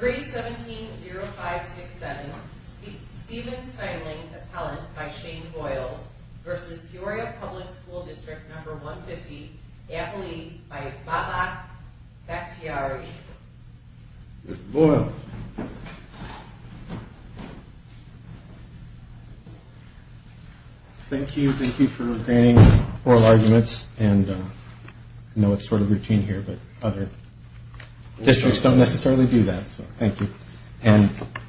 3170567 Stephen Stimeling, Appellant by Shane Boyles v. Peoria Public School District 150, Appellee by Bhatlak Bhaktiari Mr. Boyles Thank you. Thank you for granting oral arguments. I know it's sort of routine here, but other districts don't necessarily do that, so thank you.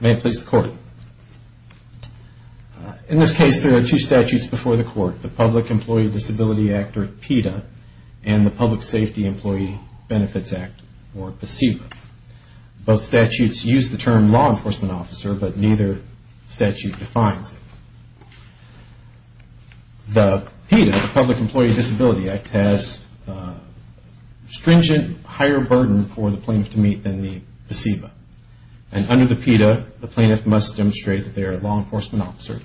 May it please the Court. In this case, there are two statutes before the Court. The Public Employee Disability Act, or PEDA, and the Public Safety Employee Benefits Act, or PCEBA. Both statutes use the term law enforcement officer, but neither statute defines it. The PEDA, the Public Employee Disability Act, has stringent higher burden for the plaintiff to meet than the PCEBA. And under the PEDA, the plaintiff must demonstrate that they are a law enforcement officer,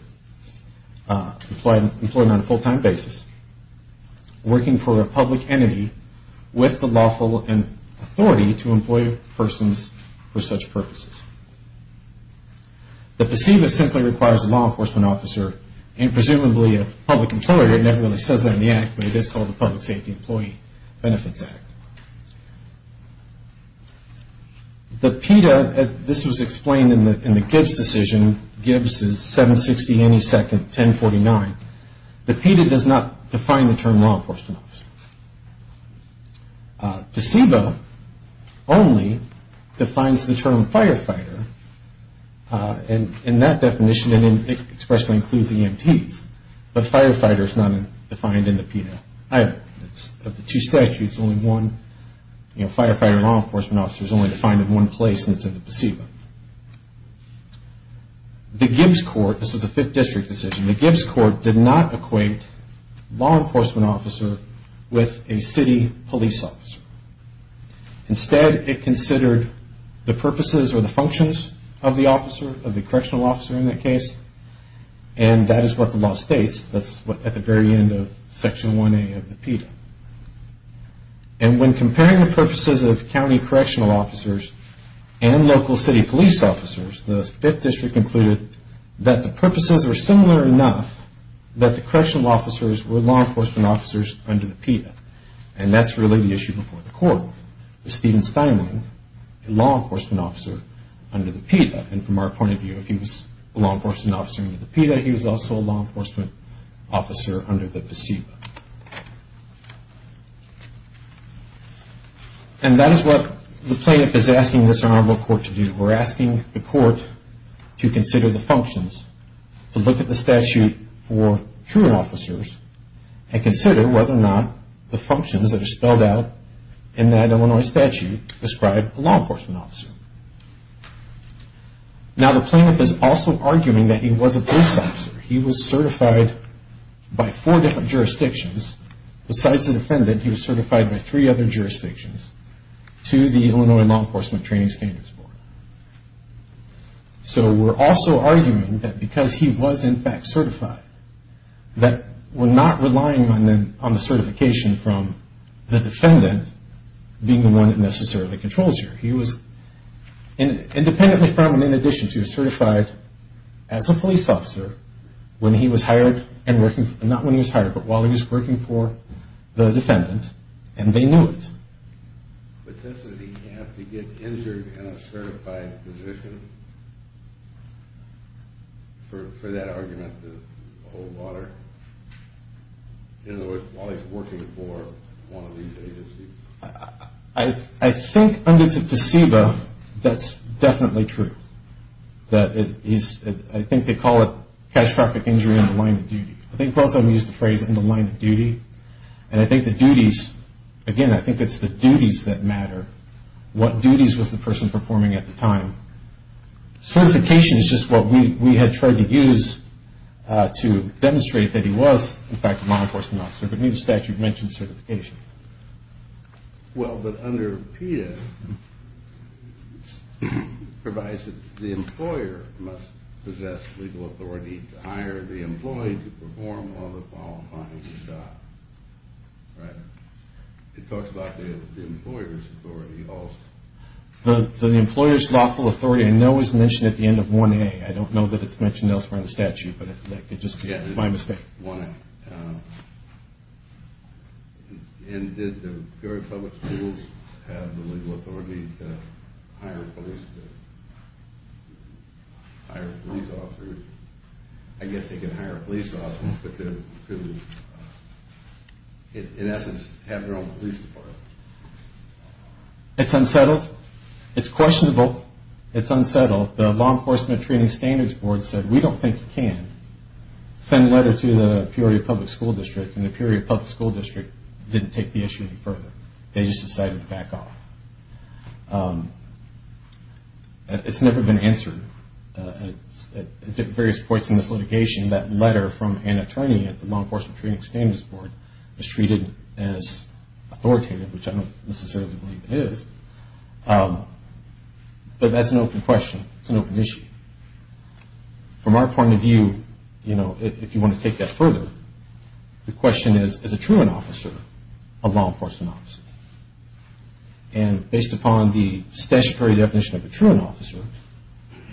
employed on a full-time basis, working for a public entity with the lawful authority to employ persons for such purposes. The PCEBA simply requires a law enforcement officer, and presumably a public employer. It never really says that in the Act, but it is called the Public Safety Employee Benefits Act. The PEDA, this was explained in the Gibbs decision, Gibbs is 760 any second, 1049. The PEDA does not define the term law enforcement officer. PCEBA only defines the term firefighter, and that definition expressly includes EMTs, but firefighter is not defined in the PEDA either. Of the two statutes, only one, you know, firefighter and law enforcement officer is only defined in one place, and it's in the PCEBA. The Gibbs court, this was a fifth district decision, the Gibbs court did not equate law enforcement officer with a city police officer. Instead, it considered the purposes or the functions of the officer, of the correctional officer in that case, and that is what the law states. That's at the very end of Section 1A of the PEDA. And when comparing the purposes of county correctional officers and local city police officers, the fifth district concluded that the purposes were similar enough that the correctional officers were law enforcement officers under the PEDA, and that's really the issue before the court. Steven Steinwing, a law enforcement officer under the PEDA, and from our point of view, if he was a law enforcement officer under the PEDA, he was also a law enforcement officer under the PCEBA. And that is what the plaintiff is asking this honorable court to do. We're asking the court to consider the functions, to look at the statute for truant officers, and consider whether or not the functions that are spelled out in that Illinois statute describe a law enforcement officer. Now, the plaintiff is also arguing that he was a police officer. He was certified by four different jurisdictions. Besides the defendant, he was certified by three other jurisdictions to the Illinois Law Enforcement Training Standards Board. So we're also arguing that because he was, in fact, certified, that we're not relying on the certification from the defendant being the one that necessarily controls you. Independently from and in addition to, he was certified as a police officer when he was hired, not when he was hired, but while he was working for the defendant, and they knew it. But doesn't he have to get injured in a certified position for that argument to hold water? In other words, while he's working for one of these agencies? I think under the PCEBA, that's definitely true. I think they call it catastrophic injury in the line of duty. I think both of them use the phrase in the line of duty. And I think the duties, again, I think it's the duties that matter. What duties was the person performing at the time? Certification is just what we had tried to use to demonstrate that he was, in fact, a law enforcement officer. But neither statute mentions certification. Well, but under PETA, it provides that the employer must possess legal authority to hire the employee to perform all the qualifying job. Right? It talks about the employer's authority also. The employer's lawful authority, I know, is mentioned at the end of 1A. I don't know that it's mentioned elsewhere in the statute, but that could just be my mistake. 1A. And did the Peoria Public Schools have the legal authority to hire a police officer? I guess they could hire a police officer, but could in essence have their own police department. It's unsettled. It's questionable. It's unsettled. The Law Enforcement Training Standards Board said, we don't think you can send a letter to the Peoria Public School District, and the Peoria Public School District didn't take the issue any further. They just decided to back off. It's never been answered. At various points in this litigation, that letter from Anna Trenian at the Law Enforcement Training Standards Board was treated as authoritative, which I don't necessarily believe it is. But that's an open question. It's an open issue. From our point of view, if you want to take that further, the question is, is a truant officer a law enforcement officer? And based upon the statutory definition of a truant officer,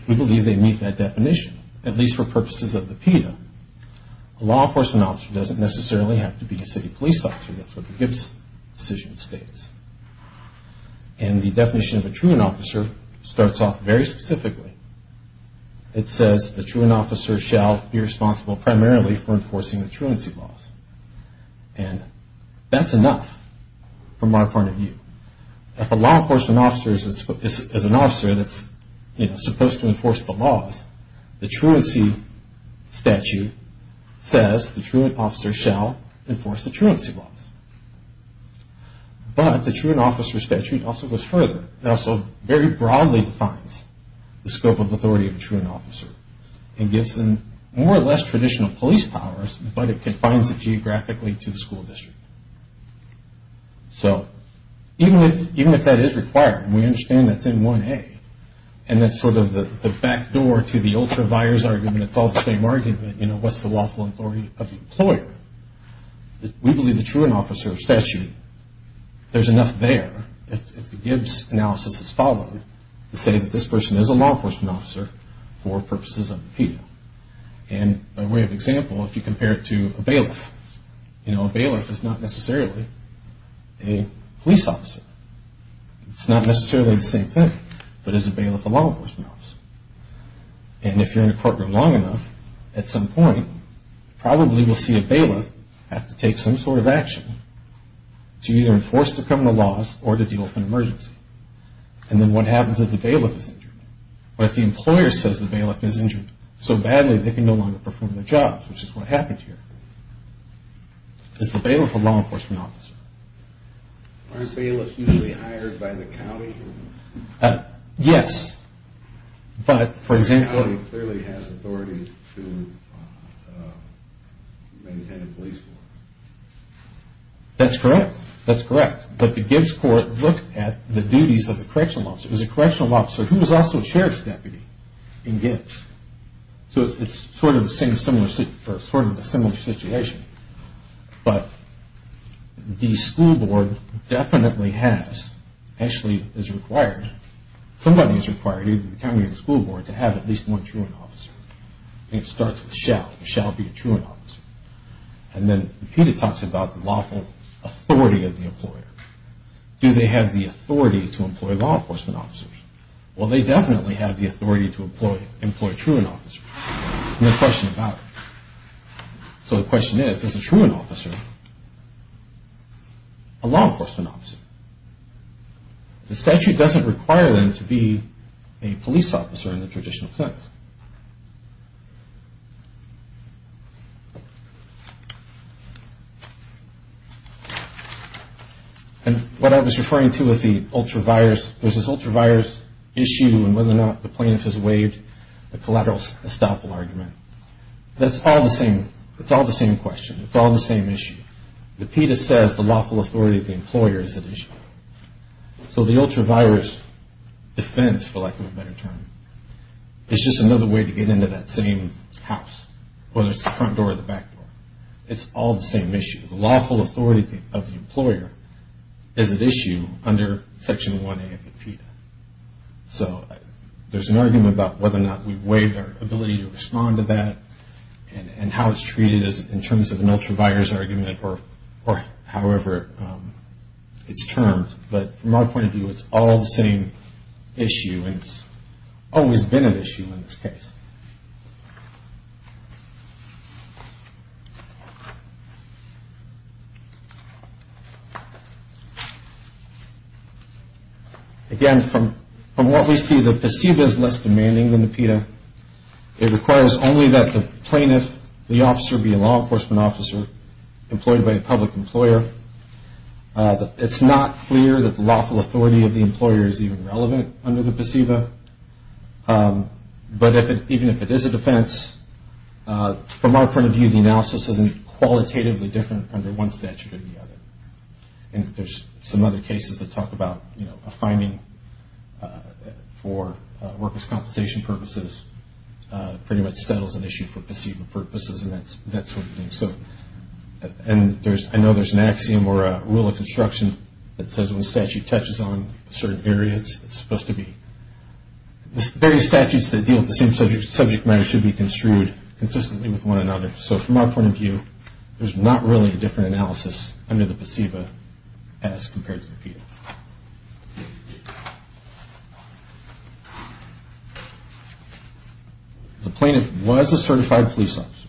we believe they meet that definition, at least for purposes of the PETA. A law enforcement officer doesn't necessarily have to be a city police officer. That's what the Gibbs decision states. And the definition of a truant officer starts off very specifically. It says, the truant officer shall be responsible primarily for enforcing the truancy laws. And that's enough from our point of view. If a law enforcement officer is an officer that's supposed to enforce the laws, the truancy statute says the truant officer shall enforce the truancy laws. But the truant officer statute also goes further. It also very broadly defines the scope of authority of a truant officer and gives them more or less traditional police powers, but it confines it geographically to the school district. So even if that is required, and we understand that's in 1A, and that's sort of the back door to the ultra-buyers argument, it's all the same argument, you know, what's the lawful authority of the employer? We believe the truant officer statute, there's enough there, if the Gibbs analysis is followed, to say that this person is a law enforcement officer for purposes of the PETA. And by way of example, if you compare it to a bailiff, you know, a bailiff is not necessarily a police officer. It's not necessarily the same thing, but is a bailiff a law enforcement officer? And if you're in a courtroom long enough, at some point, probably we'll see a bailiff have to take some sort of action to either enforce the criminal laws or to deal with an emergency. And then what happens is the bailiff is injured. But if the employer says the bailiff is injured so badly, they can no longer perform their jobs, which is what happened here. Is the bailiff a law enforcement officer? Aren't bailiffs usually hired by the county? Yes, but for example... The county clearly has authority to maintain a police force. That's correct, that's correct. But the Gibbs court looked at the duties of the correctional officer. It was a correctional officer who was also a sheriff's deputy in Gibbs. So it's sort of a similar situation. But the school board definitely has, actually is required, somebody is required, either the county or the school board, to have at least one truant officer. And it starts with shall. Shall be a truant officer. And then repeated talks about the lawful authority of the employer. Do they have the authority to employ law enforcement officers? Well, they definitely have the authority to employ truant officers. No question about it. So the question is, is a truant officer a law enforcement officer? The statute doesn't require them to be a police officer in the traditional sense. And what I was referring to with the ultra-virus, there's this ultra-virus issue and whether or not the plaintiff has waived the collateral estoppel argument. That's all the same question. It's all the same issue. The PETA says the lawful authority of the employer is at issue. So the ultra-virus defense, for lack of a better term, is just another way to get into that same house, whether it's the front door or the back door. It's all the same issue. The lawful authority of the employer is at issue under Section 1A of the PETA. So there's an argument about whether or not we waive our ability to respond to that and how it's treated in terms of an ultra-virus argument or however it's termed. But from our point of view, it's all the same issue and it's always been an issue in this case. Again, from what we see, the PESIVA is less demanding than the PETA. It requires only that the plaintiff, the officer be a law enforcement officer employed by a public employer. It's not clear that the lawful authority of the employer is even relevant under the PESIVA. But even if it is a defense, from our point of view, the analysis isn't qualitatively different under one statute or the other. There's some other cases that talk about a finding for workers' compensation purposes pretty much settles an issue for PESIVA purposes and that sort of thing. I know there's an axiom or a rule of construction that says when a statute touches on a certain area, it's supposed to be... Various statutes that deal with the same subject matter should be construed consistently with one another. So from our point of view, there's not really a different analysis under the PESIVA as compared to the PETA. The plaintiff was a certified police officer.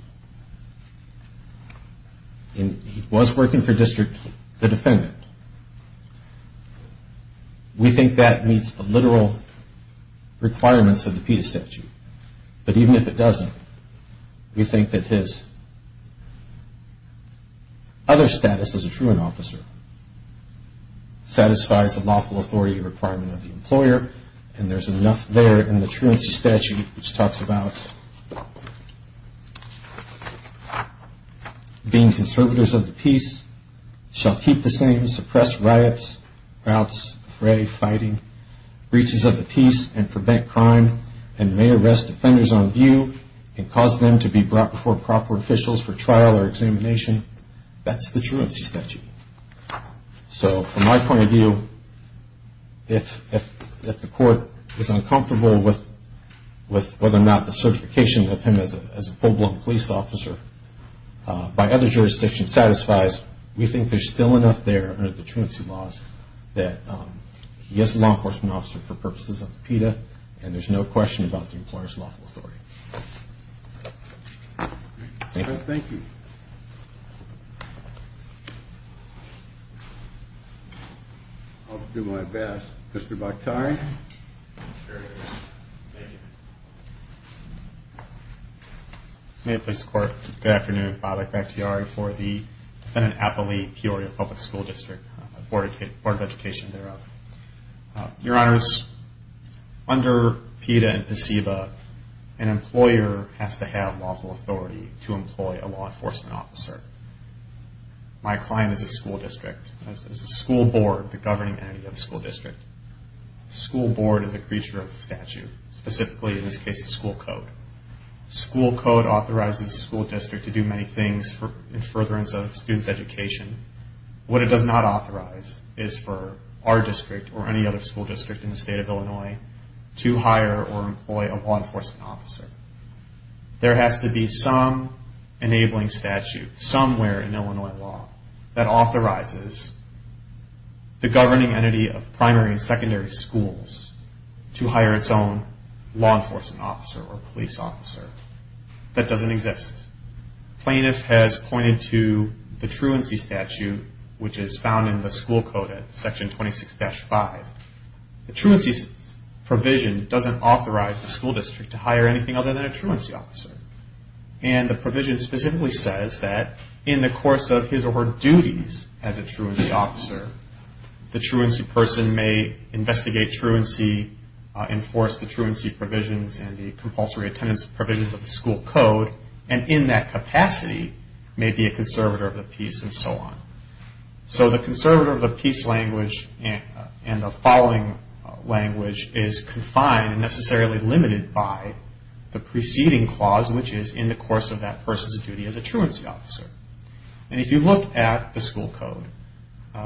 And he was working for district, the defendant. We think that meets the literal requirements of the PETA statute. But even if it doesn't, we think that his other status as a truant officer satisfies the lawful authority requirement of the employer. And there's enough there in the truancy statute which talks about being conservators of the peace, shall keep the same, suppress riots, riots, fray, fighting, breaches of the peace, and prevent crime, and may arrest offenders on view and cause them to be brought before proper officials for trial or examination. That's the truancy statute. So from my point of view, if the court is uncomfortable with whether or not the certification of him as a full-blown police officer by other jurisdictions satisfies, we think there's still enough there under the truancy laws that he is a law enforcement officer for purposes of the PETA and there's no question about the employer's lawful authority. Thank you. I'll do my best. Mr. Bakhtari. May it please the Court, good afternoon. Bob Bakhtari for the defendant Applee Peoria Public School District, Board of Education thereof. Your Honors, under PETA and PSEBA, an employer has to have lawful authority to employ a law enforcement officer. My client is a school district, a school board, the governing entity of the school district. School board is a creature of the statute, specifically in this case the school code. School code authorizes the school district to do many things in furtherance of students' education. What it does not authorize is for our district or any other school district in the state of Illinois to hire or employ a law enforcement officer. There has to be some enabling statute somewhere in Illinois law that authorizes the governing entity of primary and secondary schools to hire its own law enforcement officer or police officer. That doesn't exist. Plaintiff has pointed to the truancy statute, which is found in the school code at section 26-5. The truancy provision doesn't authorize the school district to hire anything other than a truancy officer. And the provision specifically says that in the course of his or her duties as a truancy officer, the truancy person may investigate truancy, enforce the truancy provisions and the compulsory attendance provisions of the school code, and in that capacity may be a conservator of the peace and so on. So the conservator of the peace language and the following language is confined and necessarily limited by the preceding clause, which is in the course of that person's duty as a truancy officer. And if you look at the school code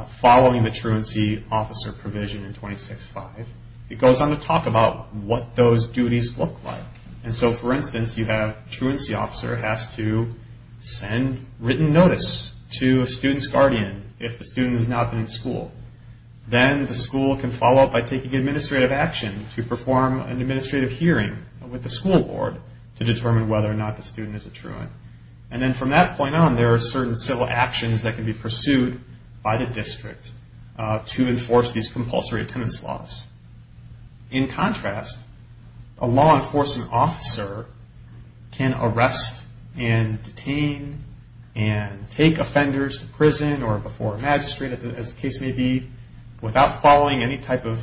following the truancy officer provision in 26-5, it goes on to talk about what those duties look like. And so, for instance, you have truancy officer has to send written notice to a student's guardian if the student has not been in school. Then the school can follow up by taking administrative action to perform an administrative hearing with the school board to determine whether or not the student is a truant. And then from that point on, there are certain civil actions that can be pursued by the district to enforce these compulsory attendance laws. In contrast, a law enforcement officer can arrest and detain and take offenders to prison or before a magistrate, as the case may be, without following any type of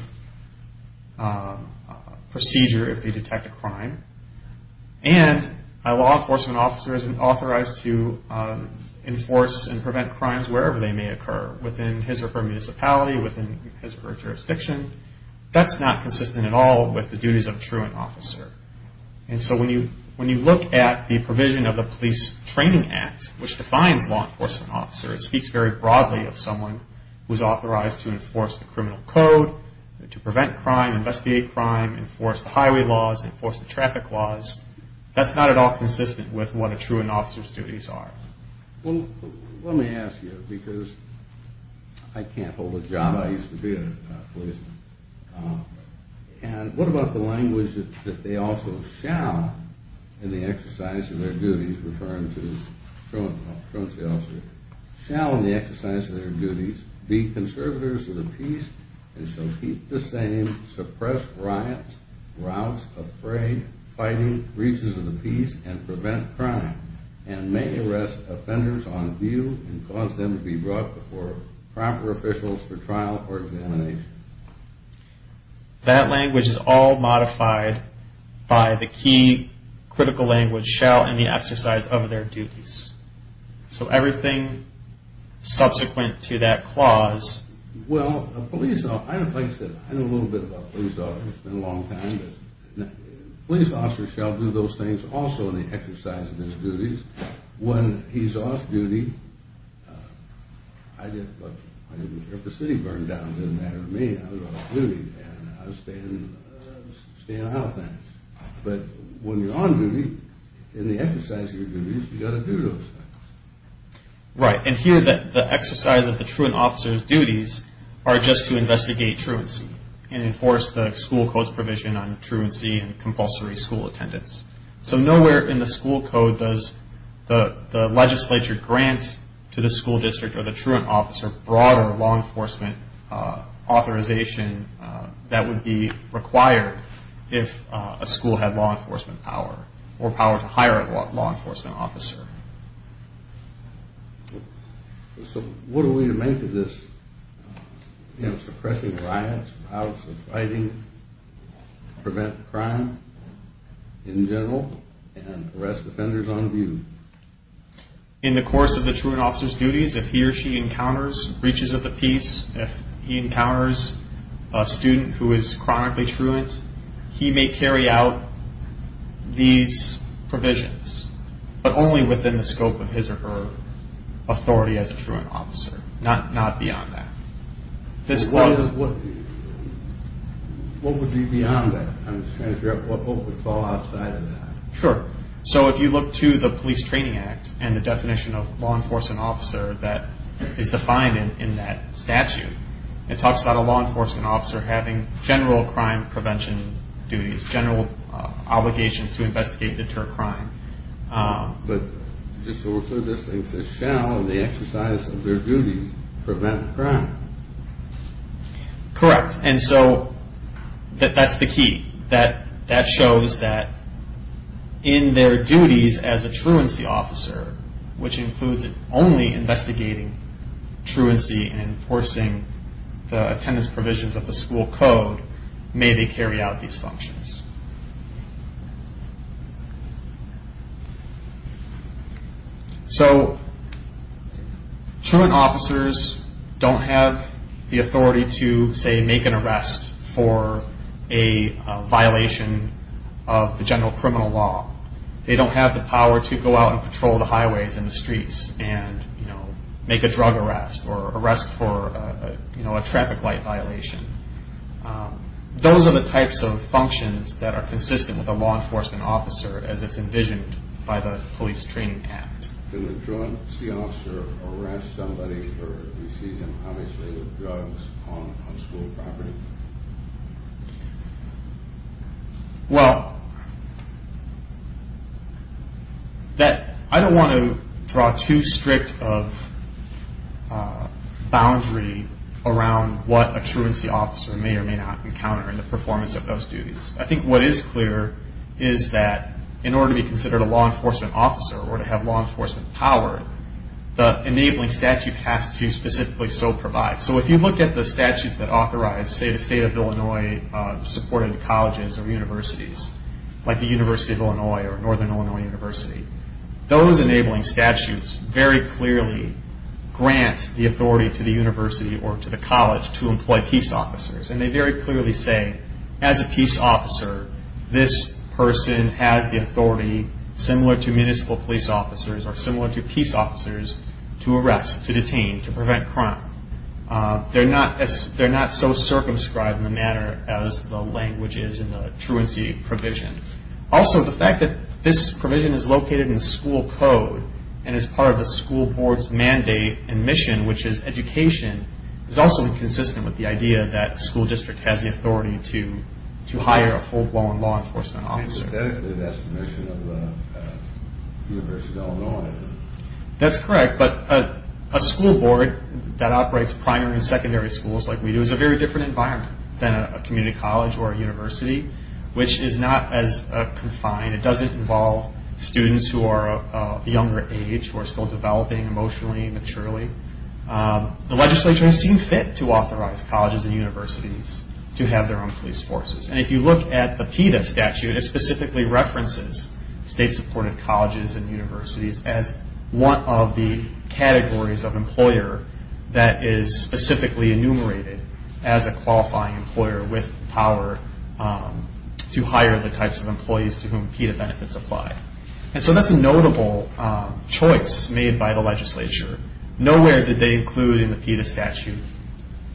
procedure if they detect a crime. And a law enforcement officer is authorized to enforce and prevent crimes wherever they may occur, within his or her municipality, within his or her jurisdiction. That's not consistent at all with the duties of a truant officer. And so when you look at the provision of the Police Training Act, which defines law enforcement officers, it speaks very broadly of someone who is authorized to enforce the criminal code, to prevent crime, investigate crime, enforce the highway laws, enforce the traffic laws. That's not at all consistent with what a truant officer's duties are. Well, let me ask you, because I can't hold a job. I used to be a policeman. And what about the language that they also shall, in the exercise of their duties, referring to the truancy officer, shall in the exercise of their duties be conservators of the peace, and shall keep the same suppressed riots, routes of fray, fighting, breaches of the peace, and prevent crime, and may arrest offenders on view, and cause them to be brought before proper officials for trial or examination? That language is all modified by the key critical language, shall, in the exercise of their duties. So everything subsequent to that Well, a police officer, like I said, I know a little bit about police officers. It's been a long time. Police officers shall do those things also in the exercise of their duties. When he's off duty, I didn't let the city burn down. It didn't matter to me. I was off duty, and I was staying out there. But when you're on duty, in the exercise of your duties, you've got to do those things. Right. And here, the exercise of the truant officer's duties are just to investigate truancy and enforce the school code's provision on truancy and compulsory school attendance. So nowhere in the school code does the legislature grant to the school district or the truant officer broader law enforcement authorization that would be required if a school had law enforcement power or power to So what are we to make of this? You know, suppressing riots, violence, fighting, prevent crime in general, and arrest offenders on view. In the course of the truant officer's duties, if he or she encounters breaches of the peace, if he encounters a student who is chronically truant, he may carry out these provisions, but only within the scope of his or her authority as a truant officer, not beyond that. What would be beyond that? I'm just trying to figure out what would fall outside of that. Sure. So if you look to the Police Training Act and the definition of law enforcement officer that is defined in that statute, it talks about a law enforcement officer having general crime prevention duties, general obligations to investigate and deter crime. But just so we're clear, this thing says shall in the exercise of their duties prevent crime. Correct. And so that's the key. That shows that in their duties as a truancy officer, which includes only investigating truancy and enforcing the attendance provisions of the school code, may they carry out these functions. So truant officers don't have the authority to, say, make an arrest for a violation of the general criminal law. They don't have the power to go out and patrol the highways and the streets and make a drug arrest or arrest for a traffic light violation. Those are the types of functions that are consistent with a law enforcement officer as it's envisioned by the Police Training Act. Can a truancy officer arrest somebody for receiving unpunishable drugs on school property? Well, I don't want to draw too strict of boundary around what a truancy officer may or may not encounter in the performance of those duties. I think what is clear is that in order to be considered a law enforcement officer or to have law enforcement power, the state of Illinois supported colleges or universities, like the University of Illinois or Northern Illinois University, those enabling statutes very clearly grant the authority to the university or to the college to employ peace officers. And they very clearly say, as a peace officer, this person has the authority, similar to municipal police officers or similar to peace officers, to describe in the manner as the language is in the truancy provision. Also, the fact that this provision is located in the school code and is part of the school board's mandate and mission, which is education, is also inconsistent with the idea that a school district has the authority to hire a full-blown law enforcement officer. That's correct, but a community college or a university, which is not as confined. It doesn't involve students who are of a younger age who are still developing emotionally and maturely. The legislature has seen fit to authorize colleges and universities to have their own police forces. And if you look at the PETA statute, it specifically references state-supported colleges and universities as one of the categories of employer that is specifically enumerated as a qualifying employer with power to hire the types of employees to whom PETA benefits apply. And so that's a notable choice made by the legislature. Nowhere did they include in the PETA statute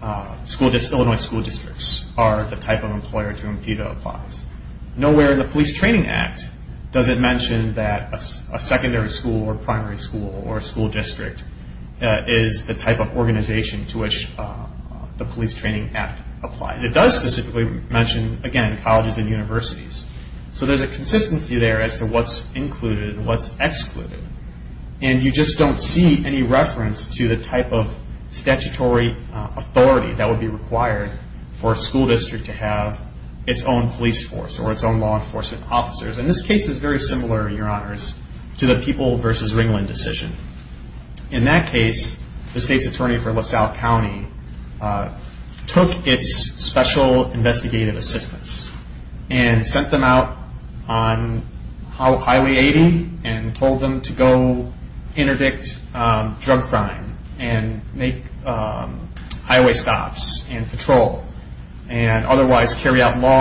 Illinois school districts are the type of employer to whom PETA applies. Nowhere in the Police Training Act does it mention that a secondary school or primary school or a school district is the type of organization to which the Police Training Act applies. It does specifically mention, again, colleges and universities. So there's a consistency there as to what's included and what's excluded. And you just don't see any reference to the type of statutory authority that would be required for a school district to have its own police force or its own law enforcement officers. And this case is very similar, Your Honors, to the People v. Ringland decision. In that case, the state's attorney for LaSalle County took its special investigative assistance and sent them out on Highway 80 and told them to go interdict drug crime and make them perform law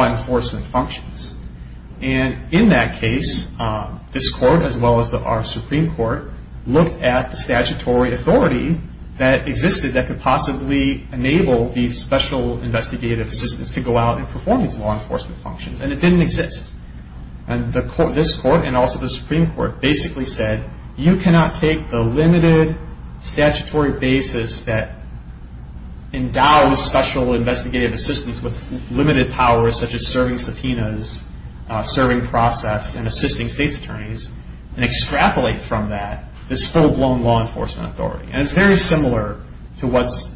enforcement functions. And in that case, this court, as well as our Supreme Court, looked at the statutory authority that existed that could possibly enable the special investigative assistance to go out and perform these law enforcement functions. And it didn't exist. And this court and also the Supreme Court basically said, you cannot take the limited statutory basis that is serving subpoenas, serving process, and assisting state's attorneys and extrapolate from that this full-blown law enforcement authority. And it's very similar to what's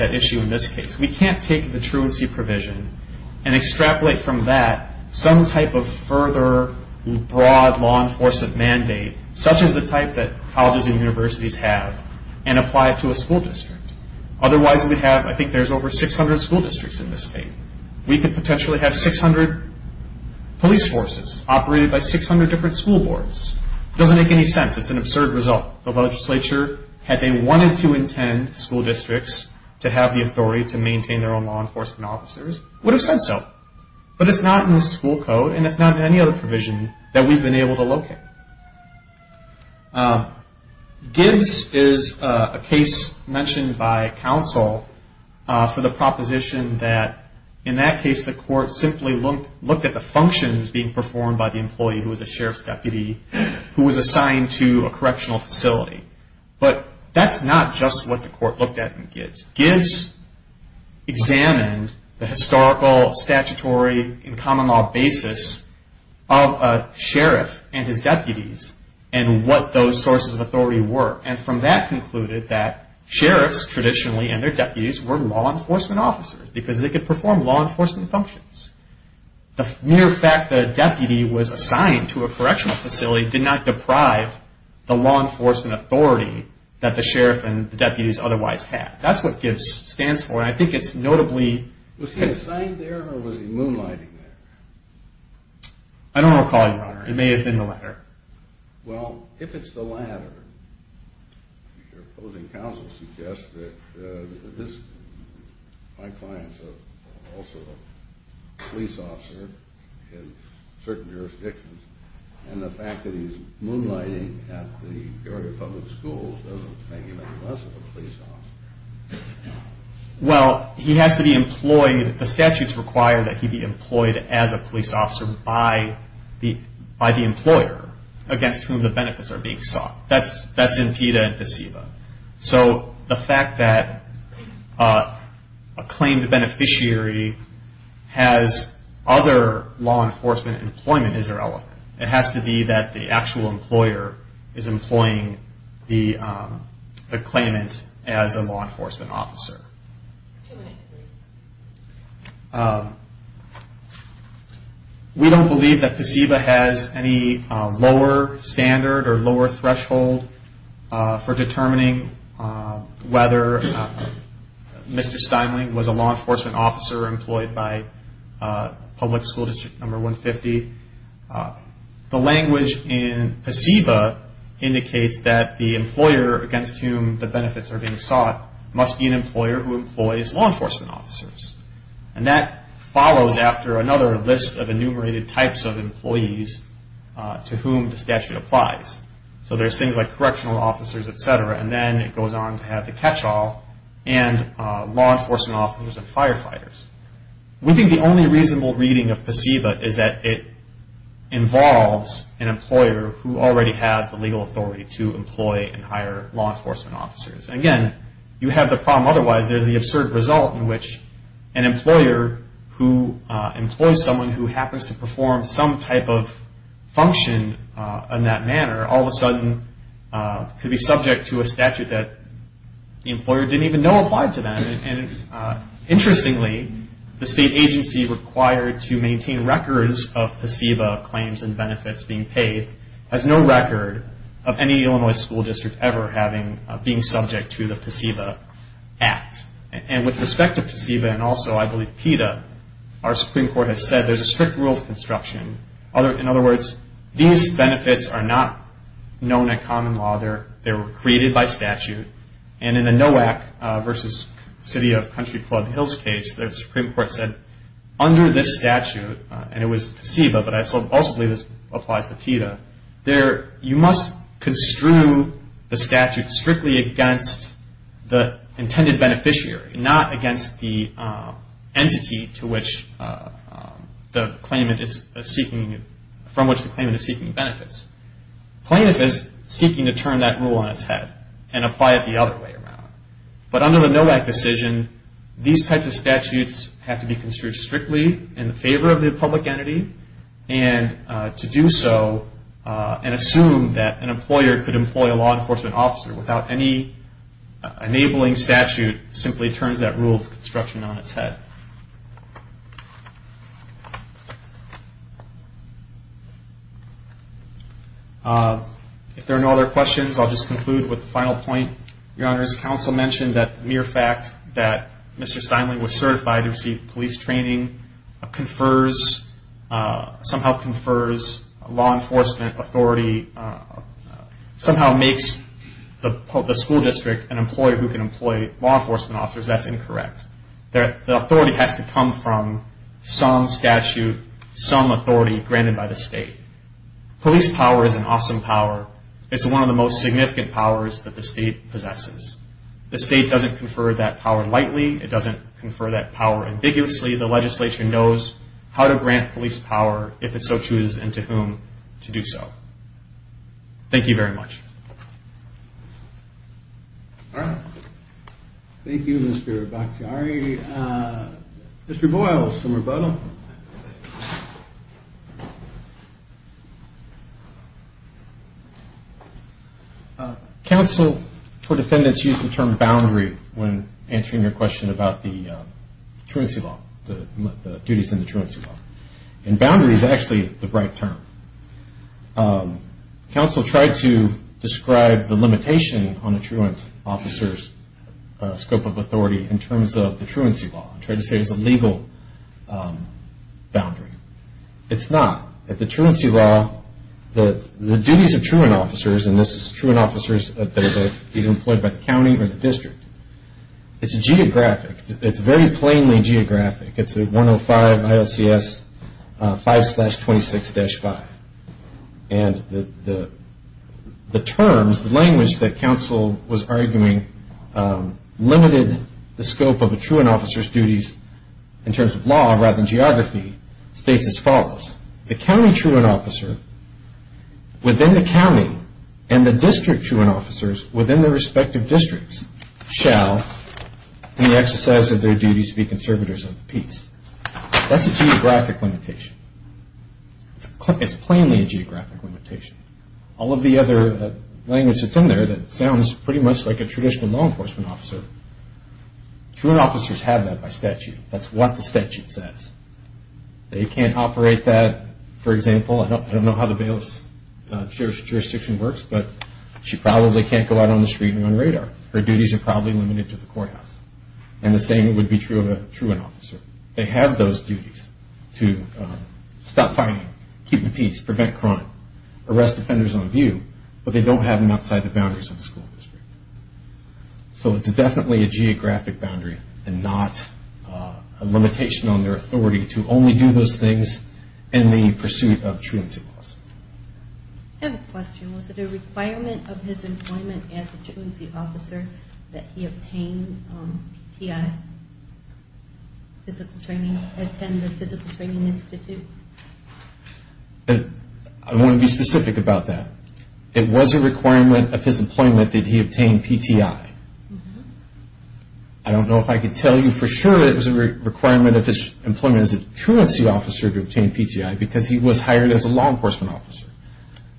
at issue in this case. We can't take the truancy provision and extrapolate from that some type of further broad law enforcement mandate such as the type that colleges and universities have and apply it to a school district. Otherwise we'd have, I think there's over 600 school districts in this state. We could potentially have 600 police forces operated by 600 different school boards. Doesn't make any sense. It's an absurd result. The legislature, had they wanted to intend school districts to have the authority to maintain their own law enforcement officers, would have said so. But it's not in the school code and it's not in any other provision that we've been able to locate. Gibbs is a case mentioned by counsel for the proposition that in that case the court simply looked at the functions being performed by the employee who was the sheriff's deputy who was assigned to a correctional facility. But that's not just what the court looked at in Gibbs. Gibbs examined the historical statutory and common law basis of a sheriff and his deputies and what those sources of authority were. And from that concluded that sheriffs traditionally and their deputies were law enforcement officers because they could perform law enforcement functions. The mere fact that a deputy was assigned to a correctional facility did not deprive the law enforcement authority that the sheriff and the deputies otherwise had. That's what Gibbs stands for and I think it's notably... Was he assigned there or was he moonlighting there? I don't recall, your honor. It may have been the latter. Well, if it's the latter, your opposing counsel suggests that this, my clients are also police officers in certain jurisdictions and the fact that he's a police officer. Well, he has to be employed. The statutes require that he be employed as a police officer by the employer against whom the benefits are being sought. That's impeda and deceiva. So the fact that a claimed beneficiary has other law enforcement employment is irrelevant. It has to be that the actual beneficiary is employed as a law enforcement officer. We don't believe that deceiva has any lower standard or lower threshold for determining whether Mr. Steinling was a law enforcement officer or employed by public school district number 150. The language in deceiva indicates that the employer against whom the benefits are being sought must be an employer who employs law enforcement officers. And that follows after another list of enumerated types of employees to whom the statute applies. So there's things like correctional officers, etc., and then it goes on to have the catch-all and law enforcement officers and firefighters. We think the only reasonable reading of deceiva is that it involves an employer who already has the legal authority to employ and hire law enforcement officers. And again, you have the problem otherwise. There's the absurd result in which an employer who employs someone who happens to perform some type of function in that manner all of a sudden could be subject to a statute that the employer didn't even know applied to them. And interestingly, the state agency required to maintain records of deceiva claims and benefits being paid has no record of any Illinois school district ever being subject to the deceiva act. And with respect to deceiva and also I believe PETA, our Supreme Court has said there's a strict rule of construction. In other words, these and in the NOAC versus City of Country Club Hills case, the Supreme Court said under this statute, and it was deceiva, but I also believe this applies to PETA, you must construe the statute strictly against the intended beneficiary, not against the entity from which the claimant is seeking benefits. Claimant is seeking to turn that rule on its head and apply it the other way around. But under the NOAC decision, these types of statutes have to be construed strictly in favor of the public entity and to do so and assume that an employer could employ a law enforcement officer without any enabling statute simply turns that rule of construction on its head. If there are no other questions, I'll just conclude with the final point. Your Honor, as counsel mentioned that the mere fact that Mr. Steinle was certified to receive police training confers, somehow confers law enforcement authority, somehow makes the school district an employer who can employ law enforcement officers. That's incorrect. The authority has to come from some statute, some authority granted by the state. Police power is an awesome power. It's one of the most significant powers that the state possesses. The state doesn't confer that power lightly. It doesn't confer that power ambiguously. The legislature knows how to grant police power if it so chooses and to whom to do so. Thank you very much. Thank you, Mr. Bakhtiari. Mr. Boyle, some rebuttal. Counsel for defendants use the term boundary when answering your question about the truancy law, the duties in the truancy law. Boundary is actually the right term. Counsel tried to describe the limitation on a truant officer's scope of authority in terms of the truancy law. I tried to say it's a legal boundary. It's not. The duties of truant officers, and this is truant officers that are being employed by the county or the district, it's geographic. It's very geographic. And the terms, the language that counsel was arguing limited the scope of a truant officer's duties in terms of law rather than geography states as follows. The county truant officer within the county and the district truant officers within their respective districts shall in the exercise of their duties be limited. It's plainly a geographic limitation. All of the other language that's in there that sounds pretty much like a traditional law enforcement officer, truant officers have that by statute. That's what the statute says. They can't operate that, for example, I don't know how the bailiff's jurisdiction works, but she probably can't go out on the street and run radar. Her duties are probably limited to the courthouse. And the same would be true of a truant officer. They have those duties to stop fighting, keep the peace, prevent crime, arrest offenders on view, but they don't have them outside the boundaries of the school district. So it's definitely a geographic boundary and not a limitation on their authority to only do those things in the pursuit of truancy laws. I have a question. Was it a requirement of his employment as a truancy officer that he obtain PTI, physical training, attend the physical training institute? I want to be specific about that. It was a requirement of his employment that he obtain PTI. I don't know if I can tell you for sure it was a requirement of his truancy officer to obtain PTI because he was hired as a law enforcement officer.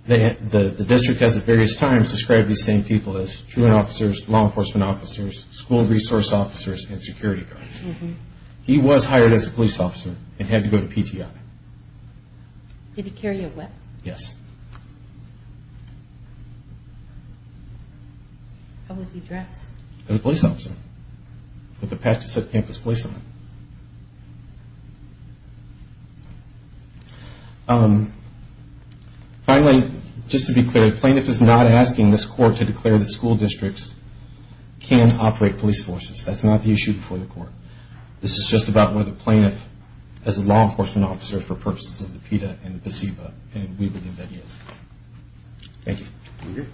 The district has at various times described these same people as truant officers, law enforcement officers, school resource officers, and security guards. He was hired as a police officer and had to go to PTI. Did he carry a whip? Yes. How was he dressed? He was dressed as a police officer. Finally, just to be clear, the plaintiff is not asking this court to declare that school districts can operate police forces. That's not the issue before the court. This is just about whether the plaintiff is a law enforcement officer for purposes of the PETA and the PSEBA and we believe that he is. Thank you.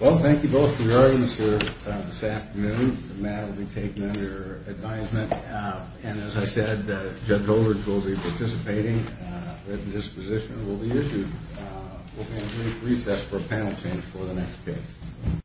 Well, thank you both for your arguments this afternoon. The matter will be taken under advisement and as I said, Judge Olrich will be participating at his position and will be issued. We'll have a brief recess for a panel change for the next case.